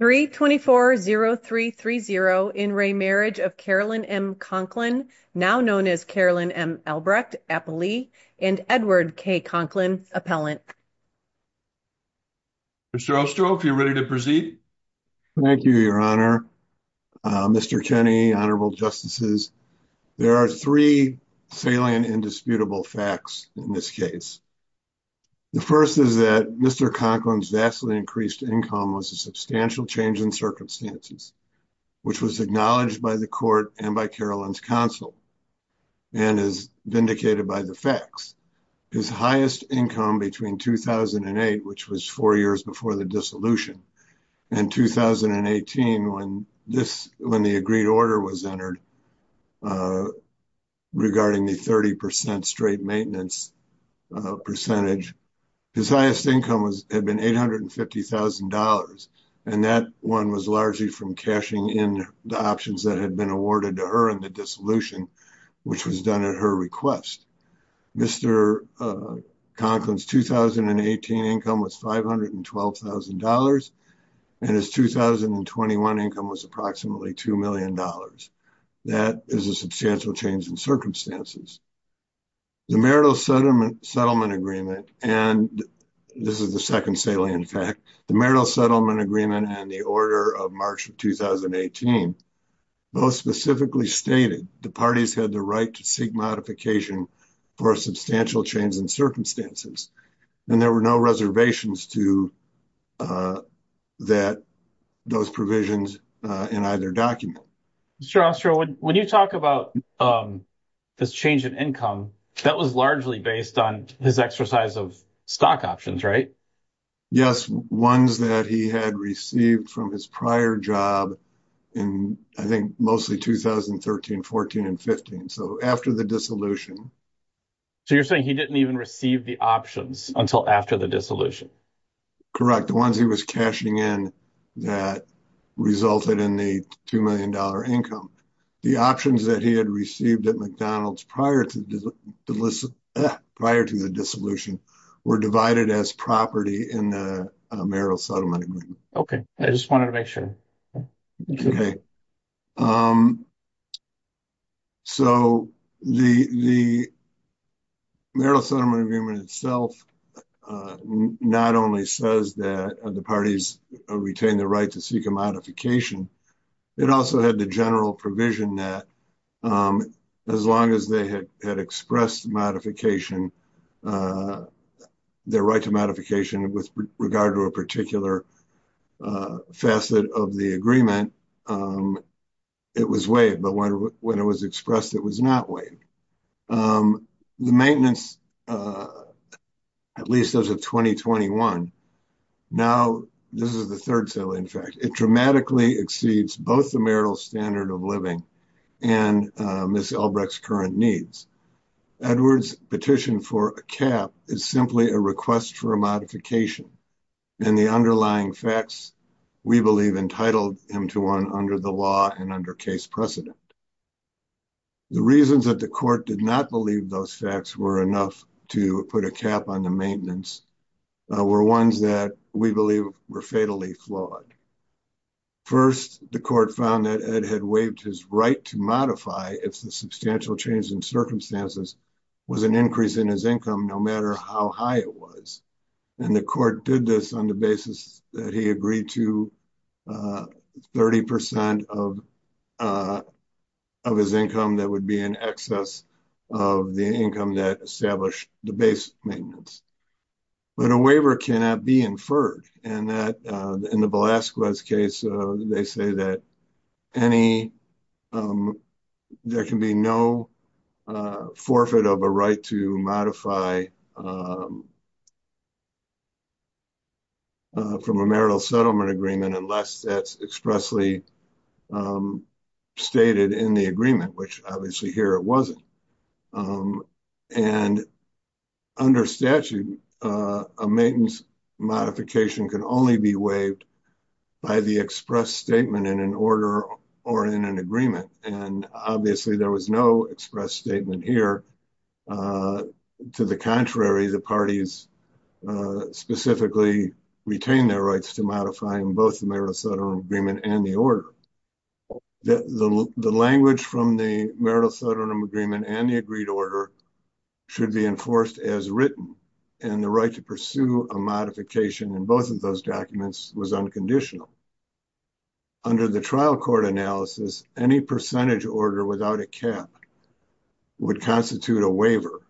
324-0330 in re Marriage of Carolyn M. Conklin, now known as Carolyn M. Albrecht, Appellee, and Edward K. Conklin, Appellant. Mr. Ostro, if you're ready to proceed. Thank you, Your Honor. Mr. Kenney, Honorable Justices, there are three salient and disputable facts in this case. The first is that Mr. Conklin's vastly increased income was a substantial change in circumstances, which was acknowledged by the court and by Carolyn's counsel and is vindicated by the facts. His highest income between 2008, which was four years before the dissolution, and 2018 when the agreed order was entered regarding the 30 percent straight maintenance percentage, his highest income had been $850,000, and that one was largely from cashing in the options that had been awarded to her in the dissolution, which was done at her request. Mr. Conklin's 2018 income was $512,000, and his 2021 income was approximately $2 million. That is a substantial change in circumstances. The marital settlement agreement, and this is the second salient fact, the marital settlement agreement and the order of March of 2018 both specifically stated the parties had the right to seek modification for a substantial change in circumstances, and there were no reservations to those provisions in either document. Mr. Ostro, when you talk about this change in income, that was largely based on his exercise of stock options, right? Yes, ones that he had received from his prior job in, I think, mostly 2013, 14, and 15, so after the dissolution. So you're saying he didn't even receive the options until after the dissolution? Correct. The ones he was cashing in that resulted in the $2 million income. The options that he had received at McDonald's prior to the dissolution were divided as property in the marital settlement agreement. Okay, I just wanted to make sure. Okay, so the marital settlement agreement itself not only says that the parties retain the right to seek a modification, it also had the general provision that as long as they had expressed their right to modification with regard to a particular facet of the agreement, it was waived, but when it was expressed, it was not waived. The maintenance, at least as of 2021, now this is the third settlement, in fact, it dramatically exceeds both the marital standard of living and Ms. Albrecht's current needs. Edward's petition for a cap is simply a request for a modification, and the underlying facts we believe entitled him to one under the law and under case precedent. The reasons that the court did not believe those facts were enough to put a cap on the maintenance were ones that we believe were fatally flawed. First, the court found that Ed had waived his right to modify if the substantial change in circumstances was an increase in his income no matter how high it was, and the court did this on the basis that he agreed to 30 percent of his income that would be in excess of the income that established the maintenance. But a waiver cannot be inferred, and in the Velasquez case, they say that there can be no forfeit of a right to modify from a marital settlement agreement unless that's expressly stated in the agreement, which obviously here it wasn't. And under statute, a maintenance modification can only be waived by the express statement in an order or in an agreement, and obviously there was no express statement here. To the contrary, the parties specifically retain their rights to modifying both the marital settlement agreement and the order. The language from the marital settlement agreement and the agreed order should be enforced as written, and the right to pursue a modification in both of those documents was unconditional. Under the trial court analysis, any percentage order without a cap would constitute a waiver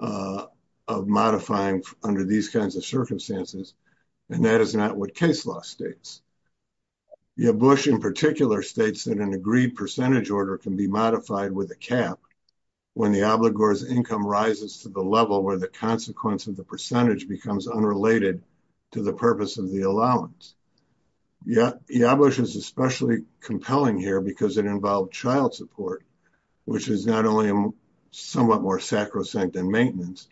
of modifying under these kinds of circumstances, and that is not what case law states. Yabush in particular states that an agreed percentage order can be modified with a cap when the obligor's income rises to the level where the consequence of the percentage becomes unrelated to the purpose of the allowance. Yabush is especially compelling here because it child support, which is not only somewhat more sacrosanct than maintenance,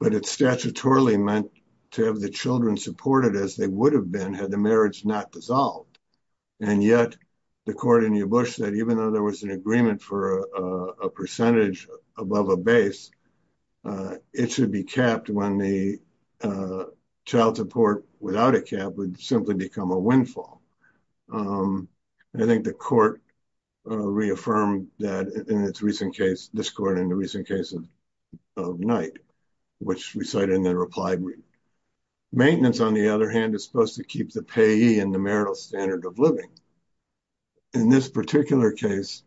but it's statutorily meant to have the children supported as they would have been had the marriage not dissolved. And yet the court in Yabush said even though there was an agreement for a percentage above a base, it should be capped when the child support without a cap would simply become a windfall. And I think the court reaffirmed that in its recent case, this court in the recent case of Knight, which we cite in the reply brief. Maintenance, on the other hand, is supposed to keep the payee in the marital standard of living. In this particular case,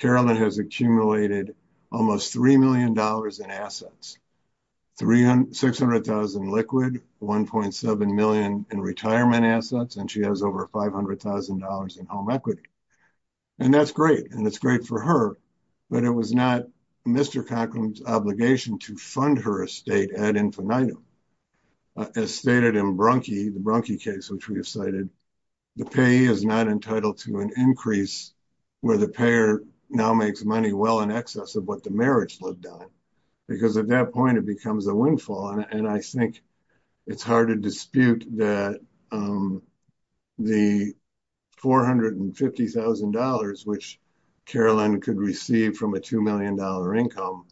Carolyn has accumulated almost $3 million in assets, $600,000 in liquid, $1.7 million in retirement assets, and she has over $500,000 in home equity. And that's great, and it's great for her, but it was not Mr. Cochran's obligation to fund her estate ad infinitum. As stated in the Brunke case, which we have cited, the payee is not entitled to an increase where the payer now makes money well in excess of what the marriage lived on. Because at that point, it becomes a and I think it's hard to dispute that the $450,000, which Carolyn could receive from a $2 million income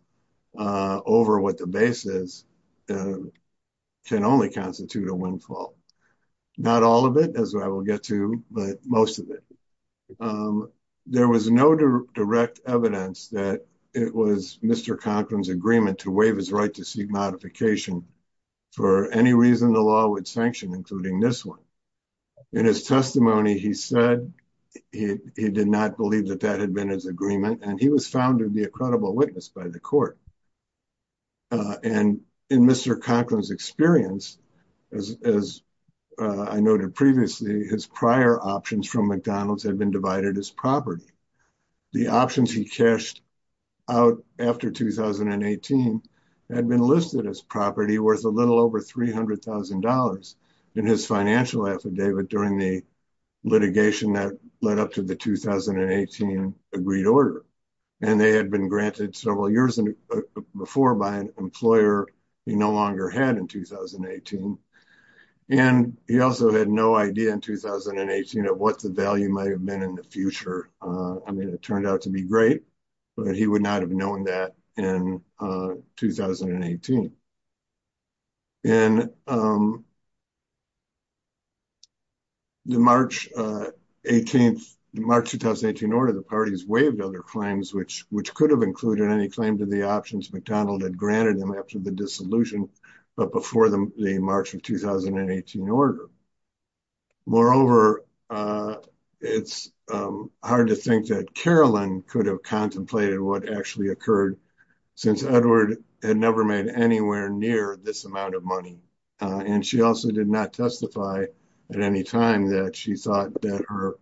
over what the base is, can only constitute a windfall. Not all of it, as I will get to, but most of it. There was no direct evidence that it was Mr. Cochran's agreement to waive his right to seek modification for any reason the law would sanction, including this one. In his testimony, he said he did not believe that that had been his agreement, and he was found to be a credible witness by the court. And in Mr. Cochran's experience, as I noted previously, his prior options from McDonald's had been divided as property. The options he cashed out after 2018 had been listed as property worth a little over $300,000 in his financial affidavit during the litigation that led up to the 2018 agreed order. And they had been granted several years before by an employer he no longer had in 2018. And he also had no idea in 2018 of what the value might have been in the future. I mean, it turned out to be great, but he would not have known that in 2018. In the March 2018 order, the parties waived other claims, which could have included any claim to the options McDonald had granted them after the dissolution, but before the March of 2018 order. Moreover, it's hard to think that Carolyn could have contemplated what actually occurred since Edward had never made anywhere near this amount of money. And she also did not testify at any time that she thought that her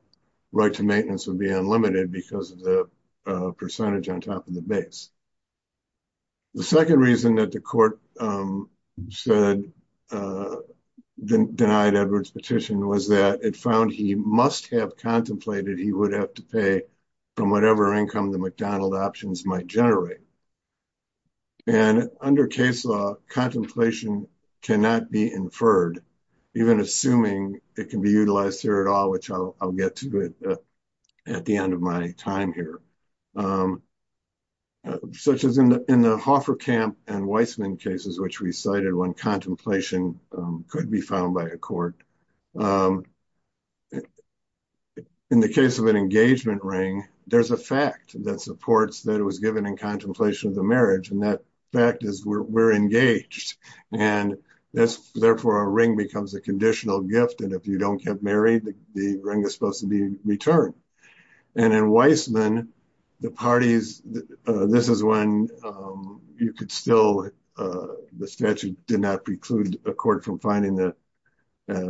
right to maintenance would be unlimited because of the percentage on top of the base. The second reason that the court denied Edward's petition was that it found he must have contemplated he would have to pay from whatever income the McDonald options might generate. And under case law, contemplation cannot be inferred, even assuming it can be utilized here at all, which I'll get to at the end of my time here. Such as in the Hofferkamp and Weissman cases, which we cited when contemplation could be found by a court. In the case of an engagement ring, there's a fact that supports that it was given in contemplation of the marriage. And that fact is we're engaged. And that's therefore a ring becomes a conditional gift. And if you don't get married, the ring is supposed to be returned. And in Weissman, the parties, this is when you could still, the statute did not preclude a court from finding a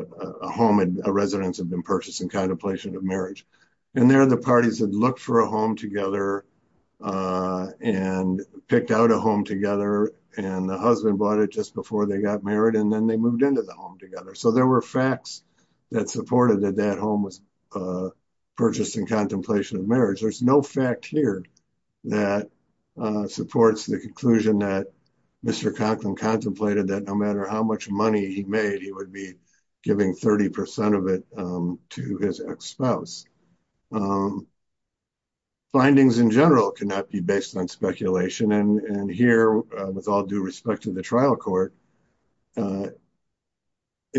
home and a residence had been purchased in contemplation of marriage. And there are the parties that looked for a home together and the husband bought it just before they got married. And then they moved into the home together. So there were facts that supported that that home was purchased in contemplation of marriage. There's no fact here that supports the conclusion that Mr. Conklin contemplated that no matter how much money he made, he would be giving 30% of it to his ex-spouse. Findings in general cannot be based on speculation. And here with all due respect to the trial court, it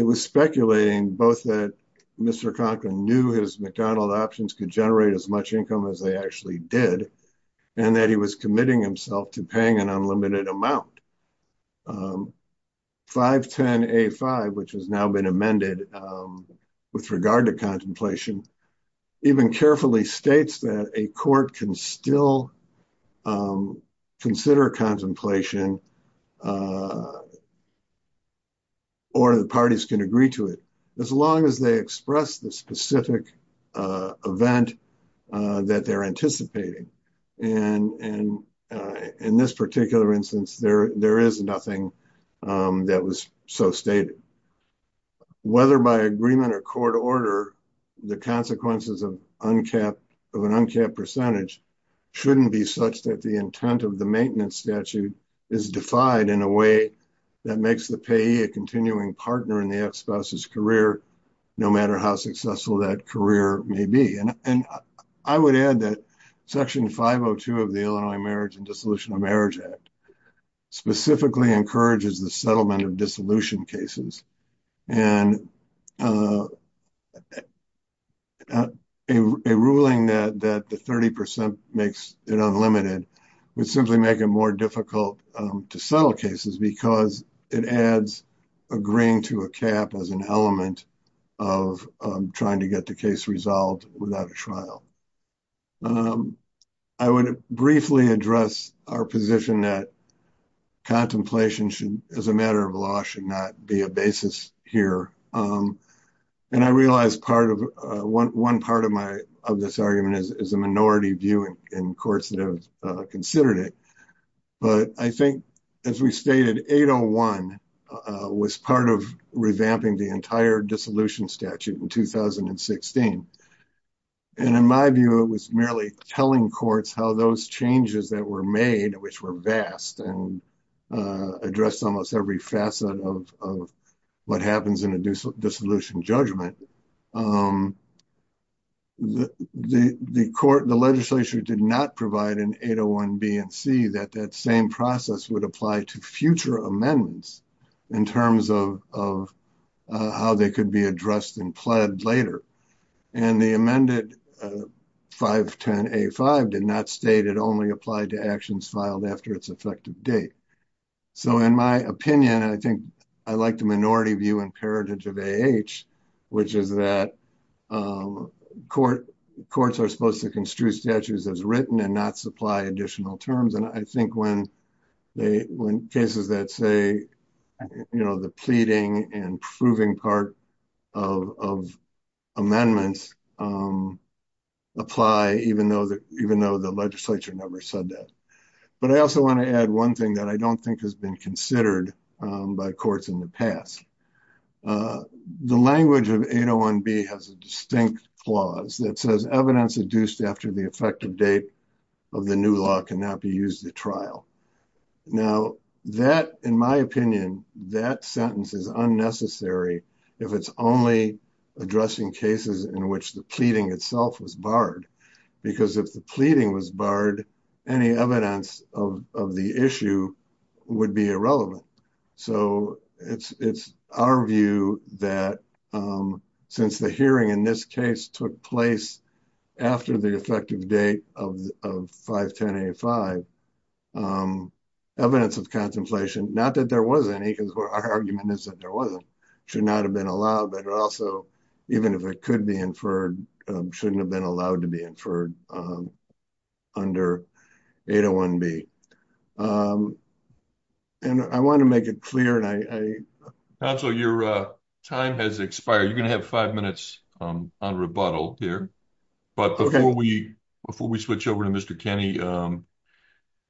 was speculating both that Mr. Conklin knew his McDonald options could generate as much income as they actually did, and that he was committing himself to paying an unlimited amount. 510A5, which has now been amended with regard to contemplation, even carefully states that a court can still consider contemplation or the parties can agree to it, as long as they express the specific event that they're anticipating. And in this particular instance, there is nothing that was so stated. Whether by agreement or court order, the consequences of an uncapped percentage shouldn't be such that the intent of the maintenance statute is defied in a way that makes the payee a continuing partner in the ex-spouse's career, no matter how successful that career may be. And I would add that Section 502 of the Illinois Marriage and Dissolution of Marriage Act specifically encourages the settlement of dissolution cases. And a ruling that the 30% makes it unlimited would simply make it more difficult to settle cases because it adds agreeing to a cap as an element of trying to get the case resolved without a trial. I would briefly address our position that contemplation should, as a matter of law, should not be a basis here. And I realize one part of this argument is a minority view in courts that have considered it. But I think, as we stated, 801 was part of revamping the entire dissolution statute in 2016. And in my view, it was merely telling courts how those changes that were made, which were vast and addressed almost every facet of what happens in a dissolution judgment, the court, the legislature did not provide an 801B and C that that same process would apply to future amendments in terms of how they could be addressed and pled later. And the amended 510A5 did not state it only applied to actions filed after its effective date. So in my opinion, I think I like the minority view and heritage of AH, which is that courts are supposed to construe statutes as written and not supply additional terms. And I think when cases that say, you know, the pleading and proving part of amendments apply, even though the legislature never said that. But I also want to add one thing that I don't think has been considered by courts in the past. The language of 801B has a distinct clause that says evidence adduced after the effective date of the new law cannot be used at trial. Now, that, in my opinion, that sentence is unnecessary if it's only addressing cases in which the pleading itself was barred. Because if the pleading was barred, any evidence of the issue would be irrelevant. So it's our view that since the hearing in this case took place after the effective date of 510A5, evidence of contemplation, not that there was any, because our argument is that there wasn't, should not have been allowed. But also, even if it could be inferred, shouldn't have been allowed to be inferred under 801B. And I want to make it clear, and I... Counselor, your time has expired. You're going to have five minutes on rebuttal here. But before we switch over to Mr. Kenney,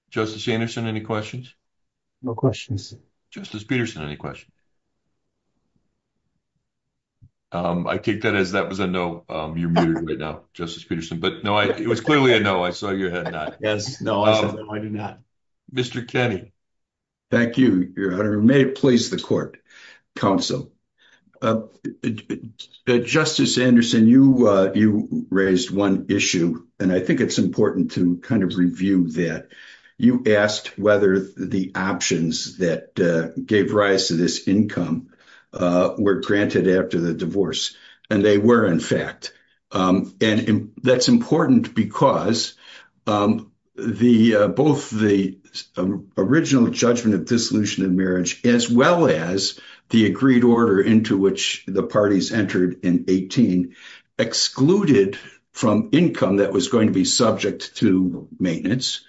Justice Anderson, any questions? No questions. Justice Peterson, any questions? I take that as that was a no, you're muted right now, Justice Peterson. But no, it was clearly a no. I saw your head nod. Yes. No, I said no, I did not. Mr. Kenney. Thank you, Your Honor. May it please the court, counsel. Justice Anderson, you raised one issue, and I think it's important to kind of review that. You asked whether the options that gave rise to this income were granted after the divorce, and they were, in fact. And that's important because both the original judgment of dissolution of marriage, as well as the agreed order into which the parties entered in 18, excluded from income that was going to be subject to maintenance,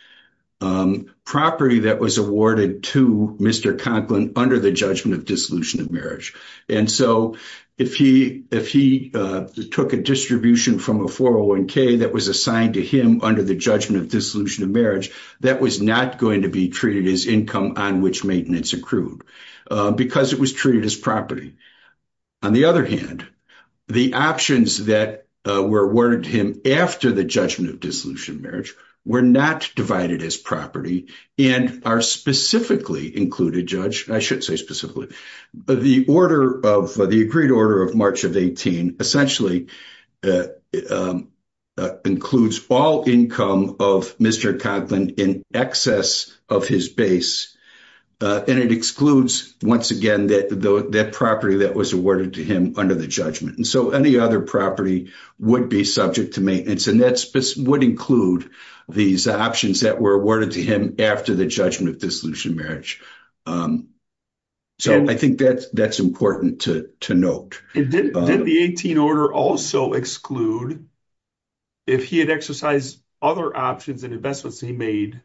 property that was awarded to Mr. Conklin under the judgment of dissolution of marriage. And so if he took a distribution from a 401k that was assigned to him under the judgment of dissolution of marriage, that was not going to be treated as income on which maintenance accrued because it was treated as property. On the other hand, the options that were awarded to him after the judgment of dissolution of marriage were not divided as property and are specifically included, Judge. I should say specifically. The order of the agreed order of March of 18 essentially includes all income of Mr. Conklin in excess of his base, and it excludes, once again, that property that was awarded to him under the judgment. And so any other property would be subject to maintenance, and that would include these options that were awarded to him after the judgment of dissolution of marriage. So I think that's important to note. Did the 18 order also exclude if he had exercised other options and investments he made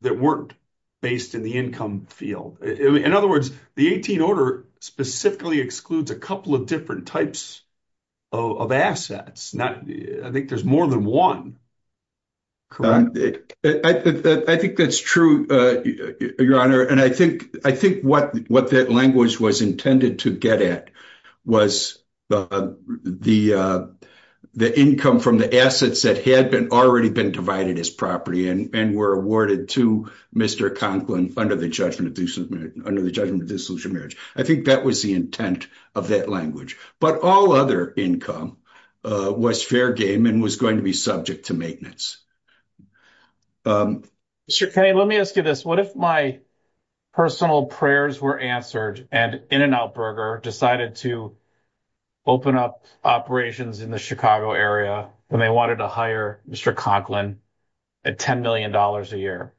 that weren't based in the income field? In other words, the 18 order specifically excludes a couple of different types of assets. I think there's more than one, correct? I think that's true, Your Honor, and I think what that language was intended to get at was the income from the assets that had already been divided as property and were awarded to Mr. Conklin under the judgment under the judgment of dissolution of marriage. I think that was the intent of that language. But all other income was fair game and was going to be subject to maintenance. Mr. Kinney, let me ask you this. What if my personal prayers were answered and In-N-Out Burger decided to open up operations in the Chicago area and they wanted to hire Mr. Conklin at $10 million a year?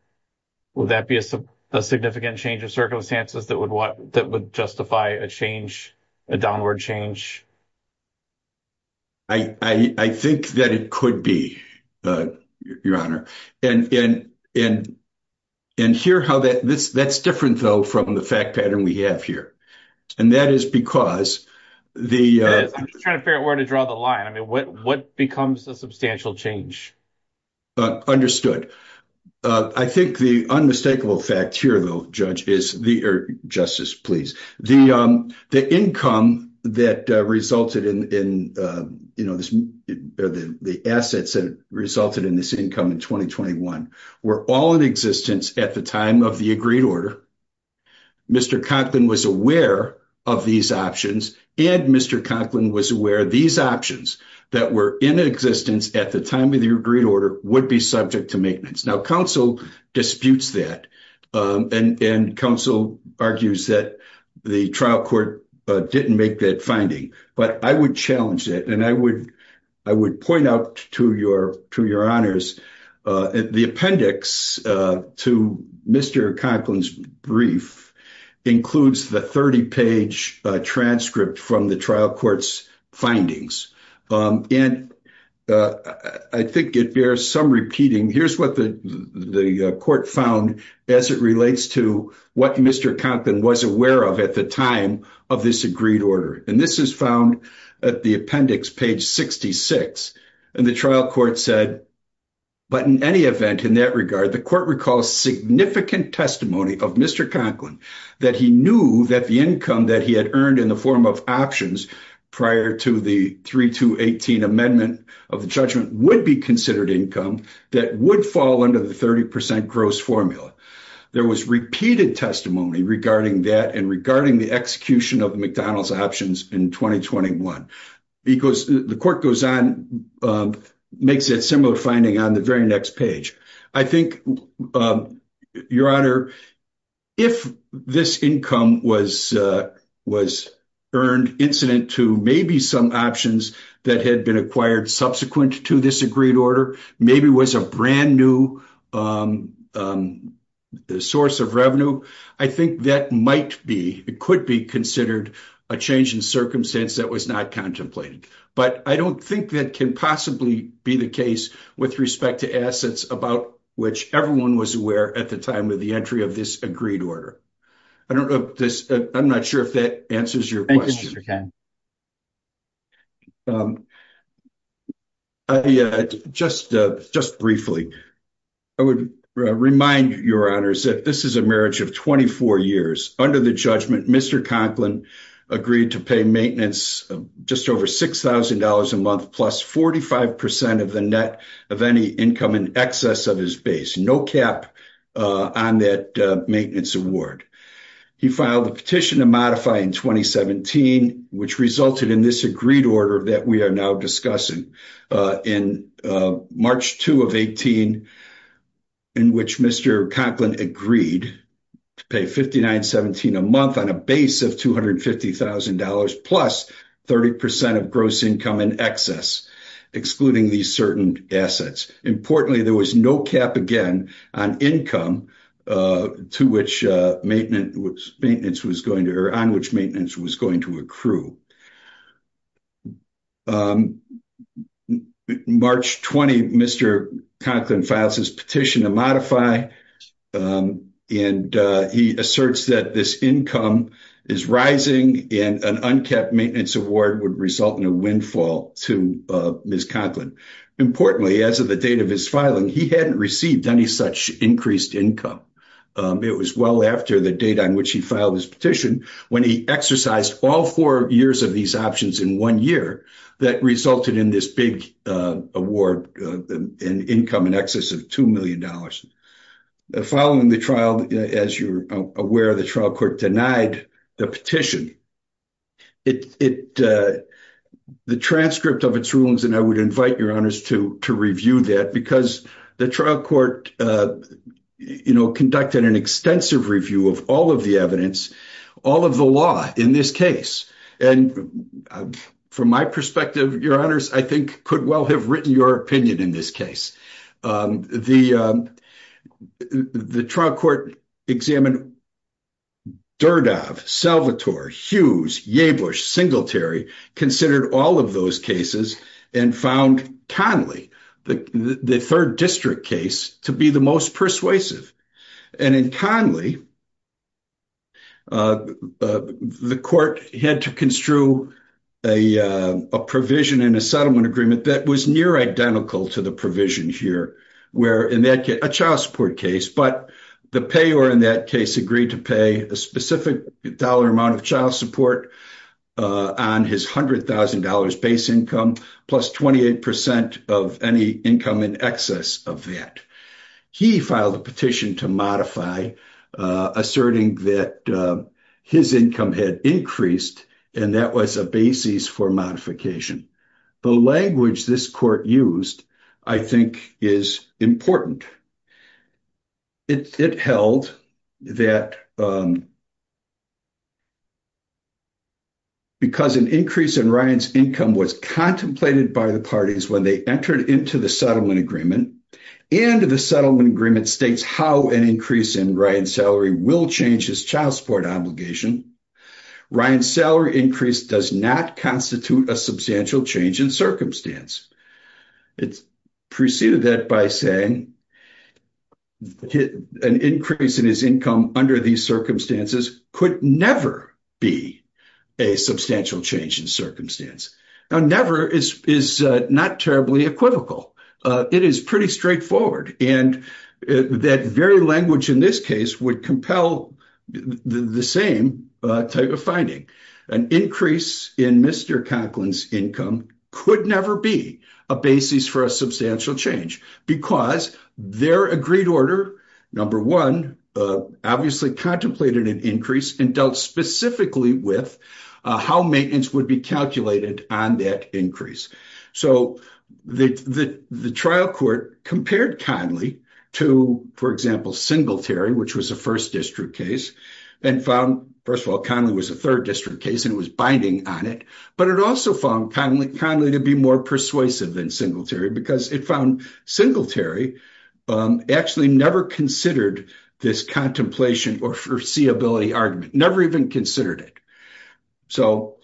Would that be a significant change of circumstances that would justify a change, a downward change? I think that it could be, Your Honor. That's different, though, from the fact pattern we have here, and that is because the— I'm just trying to figure out where to draw the line. I mean, what becomes a substantial change? Understood. I think the unmistakable fact here, though, Justice, please, the income that resulted in—the assets that resulted in this income in 2021 were all in existence at the time of the agreed order. Mr. Conklin was aware of these options, and Mr. Conklin was aware these options that were in existence at the time of the agreed order would be subject to maintenance. Now, counsel disputes that, and counsel argues that the trial court didn't make that finding. But I would challenge that, and I would point out to Your Honors, the appendix to Mr. Conklin's brief includes the 30-page transcript from the trial court's findings. And I think it bears some repeating. Here's what the court found as it relates to what Mr. Conklin was aware of at the time of this agreed order. And this is found at the appendix, page 66. And the trial court said, but in any event, in that regard, the court recalls significant testimony of Mr. Conklin that he knew that the income that he had earned in the form of options prior to the 3218 amendment of the judgment would be considered income that would fall under the 30% gross formula. There was repeated testimony regarding that and regarding the execution of McDonald's options in 2021. Because the court goes on, makes that similar finding on the very next page. I think, Your Honor, if this income was earned incident to maybe some options that had been acquired subsequent to this agreed order, maybe was a brand new source of revenue, I think that might be, it could be considered a change in circumstance that was not contemplated. But I don't think that can possibly be the case with respect to assets about which everyone was aware at the time of the entry of this agreed order. I'm not sure if that answers your question. Just briefly, I would remind Your Honors that this is a marriage of 24 years. Under the judgment, Mr. Conklin agreed to pay maintenance just over $6,000 a month plus 45% of the net of any income in excess of his base, no cap on that maintenance award. He filed a petition to modify in 2017, which resulted in this agreed order that we are now discussing. In March 2 of 18, in which Mr. Conklin agreed to pay $59.17 a month on a base of $250,000 plus 30% of gross income in excess, excluding these certain assets. Importantly, there was no cap again on income on which maintenance was going to accrue. March 20, Mr. Conklin files his petition to modify and he asserts that this income is rising and an uncapped maintenance award would result in a windfall to Ms. Conklin. Importantly, as of the date of his filing, he hadn't received any such increased income. It was well after the date on which he filed his petition when he exercised all four years of these options in one year that resulted in this big award in income in excess of $2 million. Following the trial, as you're aware, the trial court denied the petition. The transcript of its rulings, and I would invite your honors to review that because the trial court conducted an extensive review of all of the evidence, all of the law in this case. From my perspective, your honors, I think could well have written your opinion in this case. The trial court examined Durdove, Salvatore, Hughes, Yebush, Singletary, considered all of those cases and found Conley, the third district case, to be the most persuasive. In Conley, the court had to construe a provision in a settlement agreement that was near to the provision here, a child support case, but the payer in that case agreed to pay a specific dollar amount of child support on his $100,000 base income plus 28% of any income in excess of that. He filed a petition to modify, asserting that his income had increased and that was a modification. The language this court used, I think, is important. It held that because an increase in Ryan's income was contemplated by the parties when they entered into the settlement agreement, and the settlement agreement states how an increase in will change his child support obligation. Ryan's salary increase does not constitute a substantial change in circumstance. It's preceded that by saying an increase in his income under these circumstances could never be a substantial change in circumstance. Now, never is not terribly equivocal. It is pretty straightforward, and that very language in this case would compel the same type of finding. An increase in Mr. Conklin's income could never be a basis for a substantial change because their agreed order, number one, obviously contemplated an increase and dealt specifically with how maintenance would be on that increase. So the trial court compared Conley to, for example, Singletary, which was a first district case, and found, first of all, Conley was a third district case and was binding on it, but it also found Conley to be more persuasive than Singletary because it found Singletary actually never considered this contemplation or foreseeability argument, never even considered it. So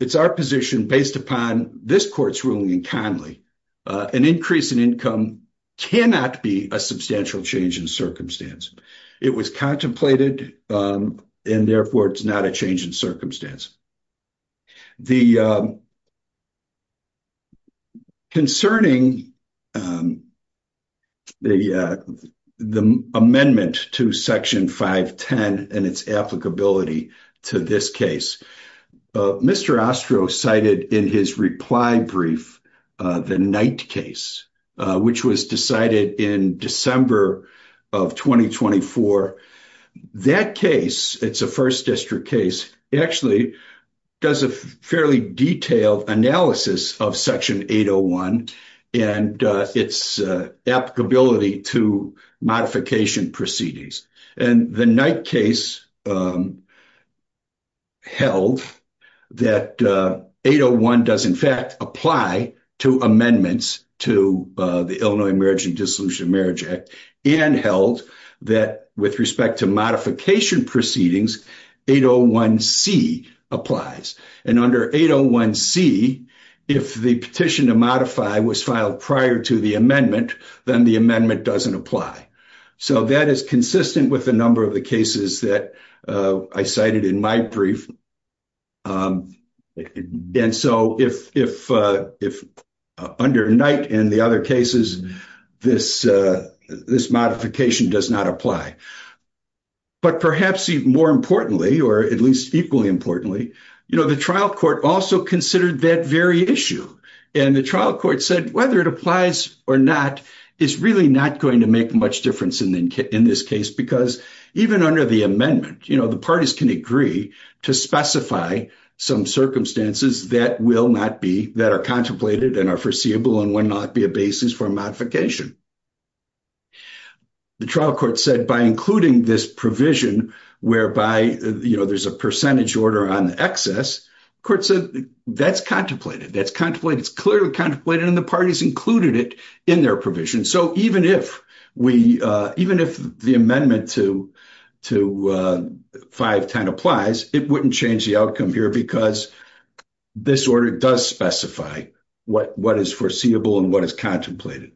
it's our position, based upon this court's ruling in Conley, an increase in income cannot be a substantial change in circumstance. It was contemplated and therefore it's not a change in circumstance. Concerning the amendment to Section 510 and its applicability to this case, Mr. Ostroh cited in his reply brief the Knight case, which was decided in December of 2024. That case, it's a first district case, actually does a fairly detailed analysis of Section 801 and its applicability to modification proceedings. And the Knight case held that 801 does in fact apply to amendments to the Illinois Marriage and Dissolution of Marriage Act and held that with respect to modifications, 801C applies. And under 801C, if the petition to modify was filed prior to the amendment, then the amendment doesn't apply. So that is consistent with a number of the cases that I cited in my brief. And so if under Knight and the other cases, this modification does not apply. But perhaps even more importantly, or at least equally importantly, you know, the trial court also considered that very issue. And the trial court said whether it applies or not is really not going to make much difference in this case, because even under the amendment, you know, the parties can agree to specify some circumstances that will not be, that are contemplated and are including this provision whereby, you know, there's a percentage order on the excess. Court said that's contemplated. That's contemplated. It's clearly contemplated and the parties included it in their provision. So even if we, even if the amendment to 510 applies, it wouldn't change the outcome here because this order does specify what is foreseeable and what is contemplated.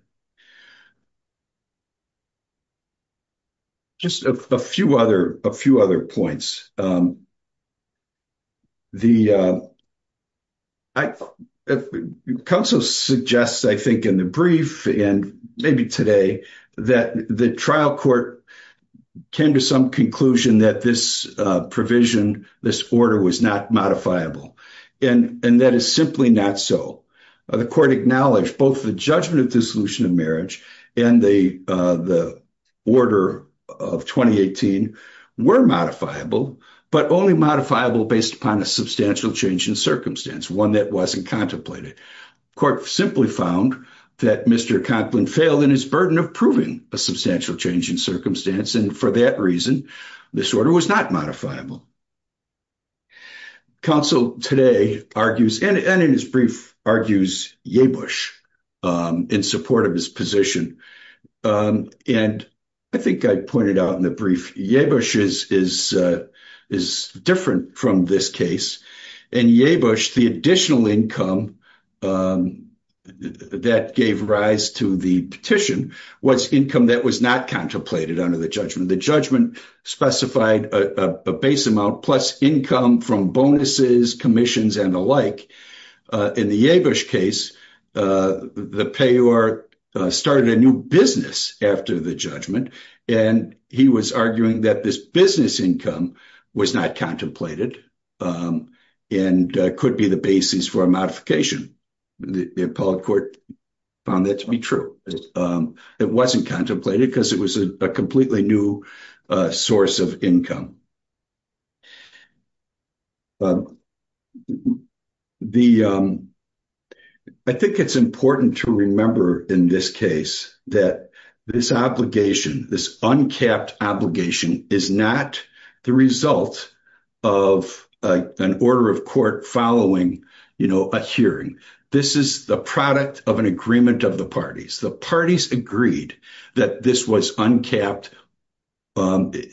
Just a few other, a few other points. The, counsel suggests, I think in the brief and maybe today, that the trial court came to some conclusion that this provision, this order was not modifiable. And that is simply not so. The court acknowledged both the judgment of dissolution of marriage and the order of 2018 were modifiable, but only modifiable based upon a substantial change in circumstance, one that wasn't contemplated. Court simply found that Mr. Conklin failed in his burden of proving a substantial change in circumstance. And for that reason, this order was not modifiable. Counsel today argues, and in his brief argues, Yabush in support of his position. And I think I pointed out in the brief, Yabush is different from this case. And Yabush, the additional income that gave rise to the petition was income that was not contemplated under the judgment. The judgment specified a base amount plus income from bonuses, commissions, and the like. In the Yabush case, the payer started a new business after the judgment. And he was arguing that this business income was not contemplated and could be the basis for a modification. The appellate court found that to be true. It wasn't contemplated because it was a completely new source of income. I think it's important to remember in this case that this obligation, this uncapped obligation, is not the result of an order of court following a hearing. This is the product of an agreement of the parties. The parties agreed that this was uncapped. Back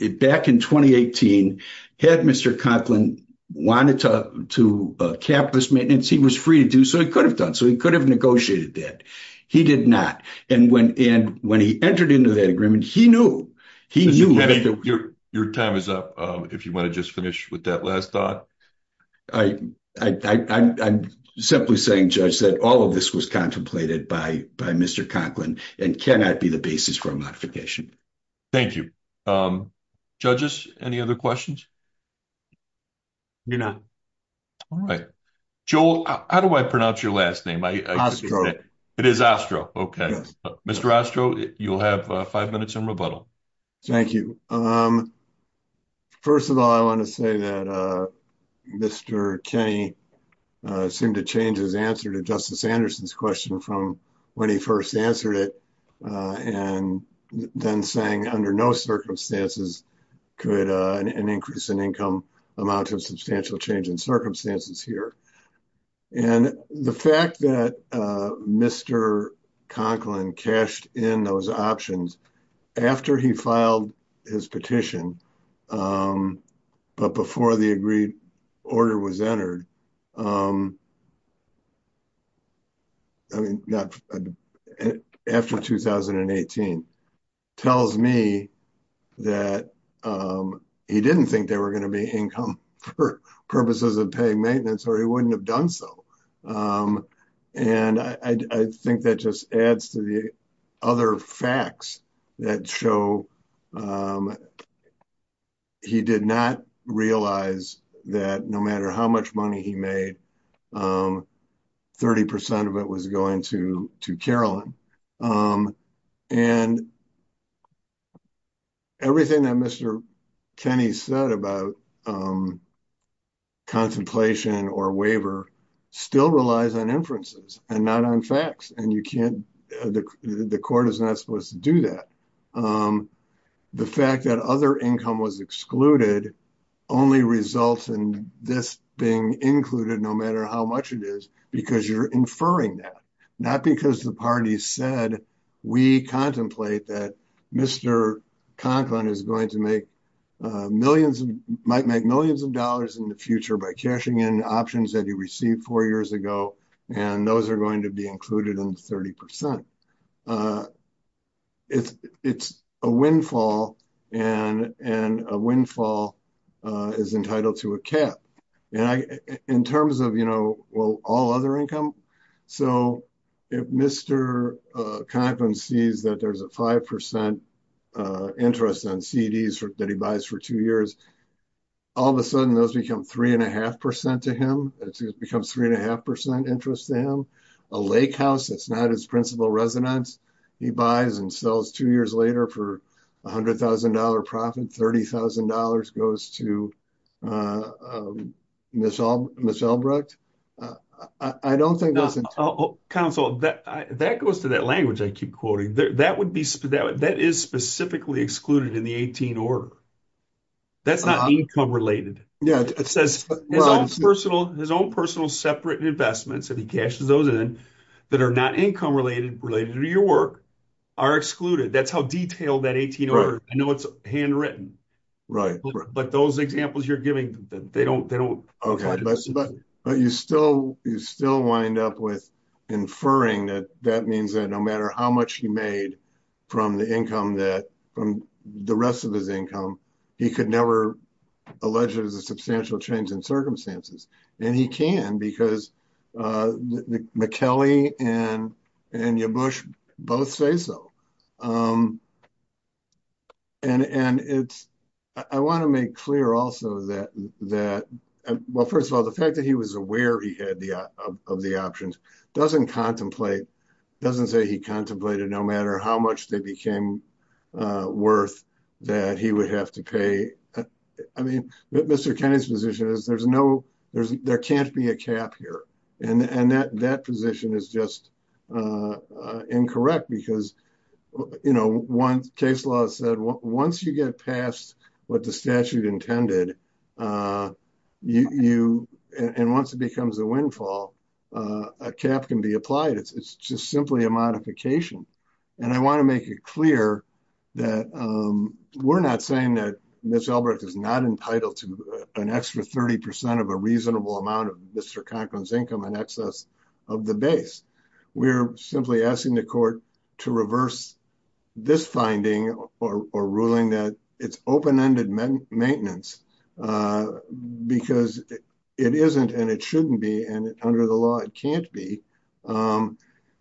in 2018, had Mr. Conklin wanted to cap this maintenance, he was free to do so. He could have done so. He could have negotiated that. He did not. And when he entered into that agreement, he knew. He knew. Mr. Kennedy, your time is up, if you want to just finish with that last thought. I'm simply saying, Judge, that all of this was contemplated by Mr. Conklin and cannot be the basis for a modification. Thank you. Judges, any other questions? Do not. All right. Joel, how do I pronounce your last name? It is Ostro. Okay. Mr. Ostro, you'll have five minutes in rebuttal. Thank you. First of all, I want to say that Mr. Kennedy seemed to change his answer to Justice Anderson's question from when he first answered it and then saying under no circumstances could an increase in income amount to a substantial change in circumstances here. And the fact that Mr. Conklin cashed in those options after he filed his petition, but before the agreed order was entered, after 2018, tells me that he didn't think there were going to be income purposes of paying maintenance or he wouldn't have done so. And I think that just adds to the other facts that show he did not realize that no matter how much money he made, 30% of it was going to Carolyn. And everything that Mr. Kennedy said about um, contemplation or waiver still relies on inferences and not on facts. And you can't, the court is not supposed to do that. Um, the fact that other income was excluded only results in this being included, no matter how much it is, because you're inferring that not because the party said, we contemplate that Mr. Conklin is going to make millions of dollars in the future by cashing in options that he received four years ago. And those are going to be included in the 30%. Uh, it's, it's a windfall and, and a windfall, uh, is entitled to a cap. And I, in terms of, you know, well, all other income. So if Mr. Conklin sees that there's a 5% interest on CDs that he buys for two years, all of a sudden those become three and a half percent to him. It becomes three and a half percent interest to him, a lake house. It's not his principal residence. He buys and sells two years later for a hundred thousand dollar profit, $30,000 goes to, uh, um, Michelle, Michelle Brecht. Uh, I don't think that's a council that, that goes to that language. I keep quoting there. That would be, that, that is specifically excluded in the 18 order. That's not income related. It says his own personal, his own personal separate investments. If he cashes those in that are not income related, related to your work are excluded. That's how detailed that 18 order. I know it's handwritten, right? But those examples you're giving that they don't, they don't. Okay. But, but you still, you still wind up with inferring that that means that no matter how much he made from the income that from the rest of his income, he could never alleged as a substantial change in circumstances. And he can, because, uh, McKellie and, and your Bush both say so. Um, and, and it's, I want to make clear also that, that, well, first of all, the fact that he was aware he had the, uh, of the options doesn't contemplate, doesn't say he contemplated no matter how much they became, uh, worth that he would have to pay. I mean, Mr. Kennedy's position is there's no, there's, there can't be a cap here. And, and that, that position is just, uh, uh, incorrect because you know, once case law said, once you get past what the statute intended, uh, you, you, and once it becomes a windfall, uh, a cap can be applied. It's just simply a modification. And I want to make it clear that, um, we're not saying that Ms. Albrecht is not entitled to an extra 30% of a reasonable amount of Mr. Conklin's income and excess of the base. We're simply asking the court to reverse this finding or, or ruling that it's open-ended maintenance, uh, because it isn't, and it shouldn't be, and under the law it can't be, um,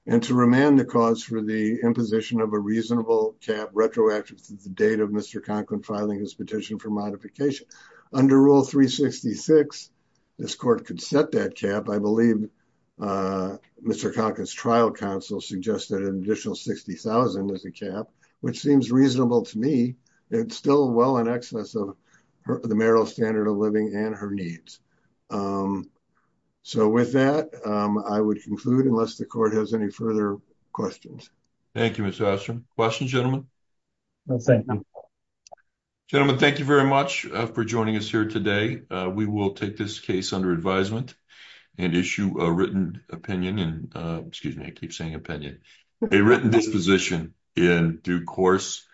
and to remand the cause for the imposition of a reasonable cap retroactive to the date of Mr. Conklin filing his petition for modification. Under rule 366, this court could set that cap. I believe, uh, Mr. Conklin's trial counsel suggested an additional $60,000 as a cap, which seems reasonable to me. It's still well in excess of the marital standard of living and her needs. Um, so with that, um, I would conclude unless the court has any further questions. Thank you, Mr. Ashton. Questions, gentlemen? Gentlemen, thank you very much for joining us here today. Uh, we will take this case under advisement and issue a written opinion and, uh, excuse me, I keep saying opinion, a written disposition in due course.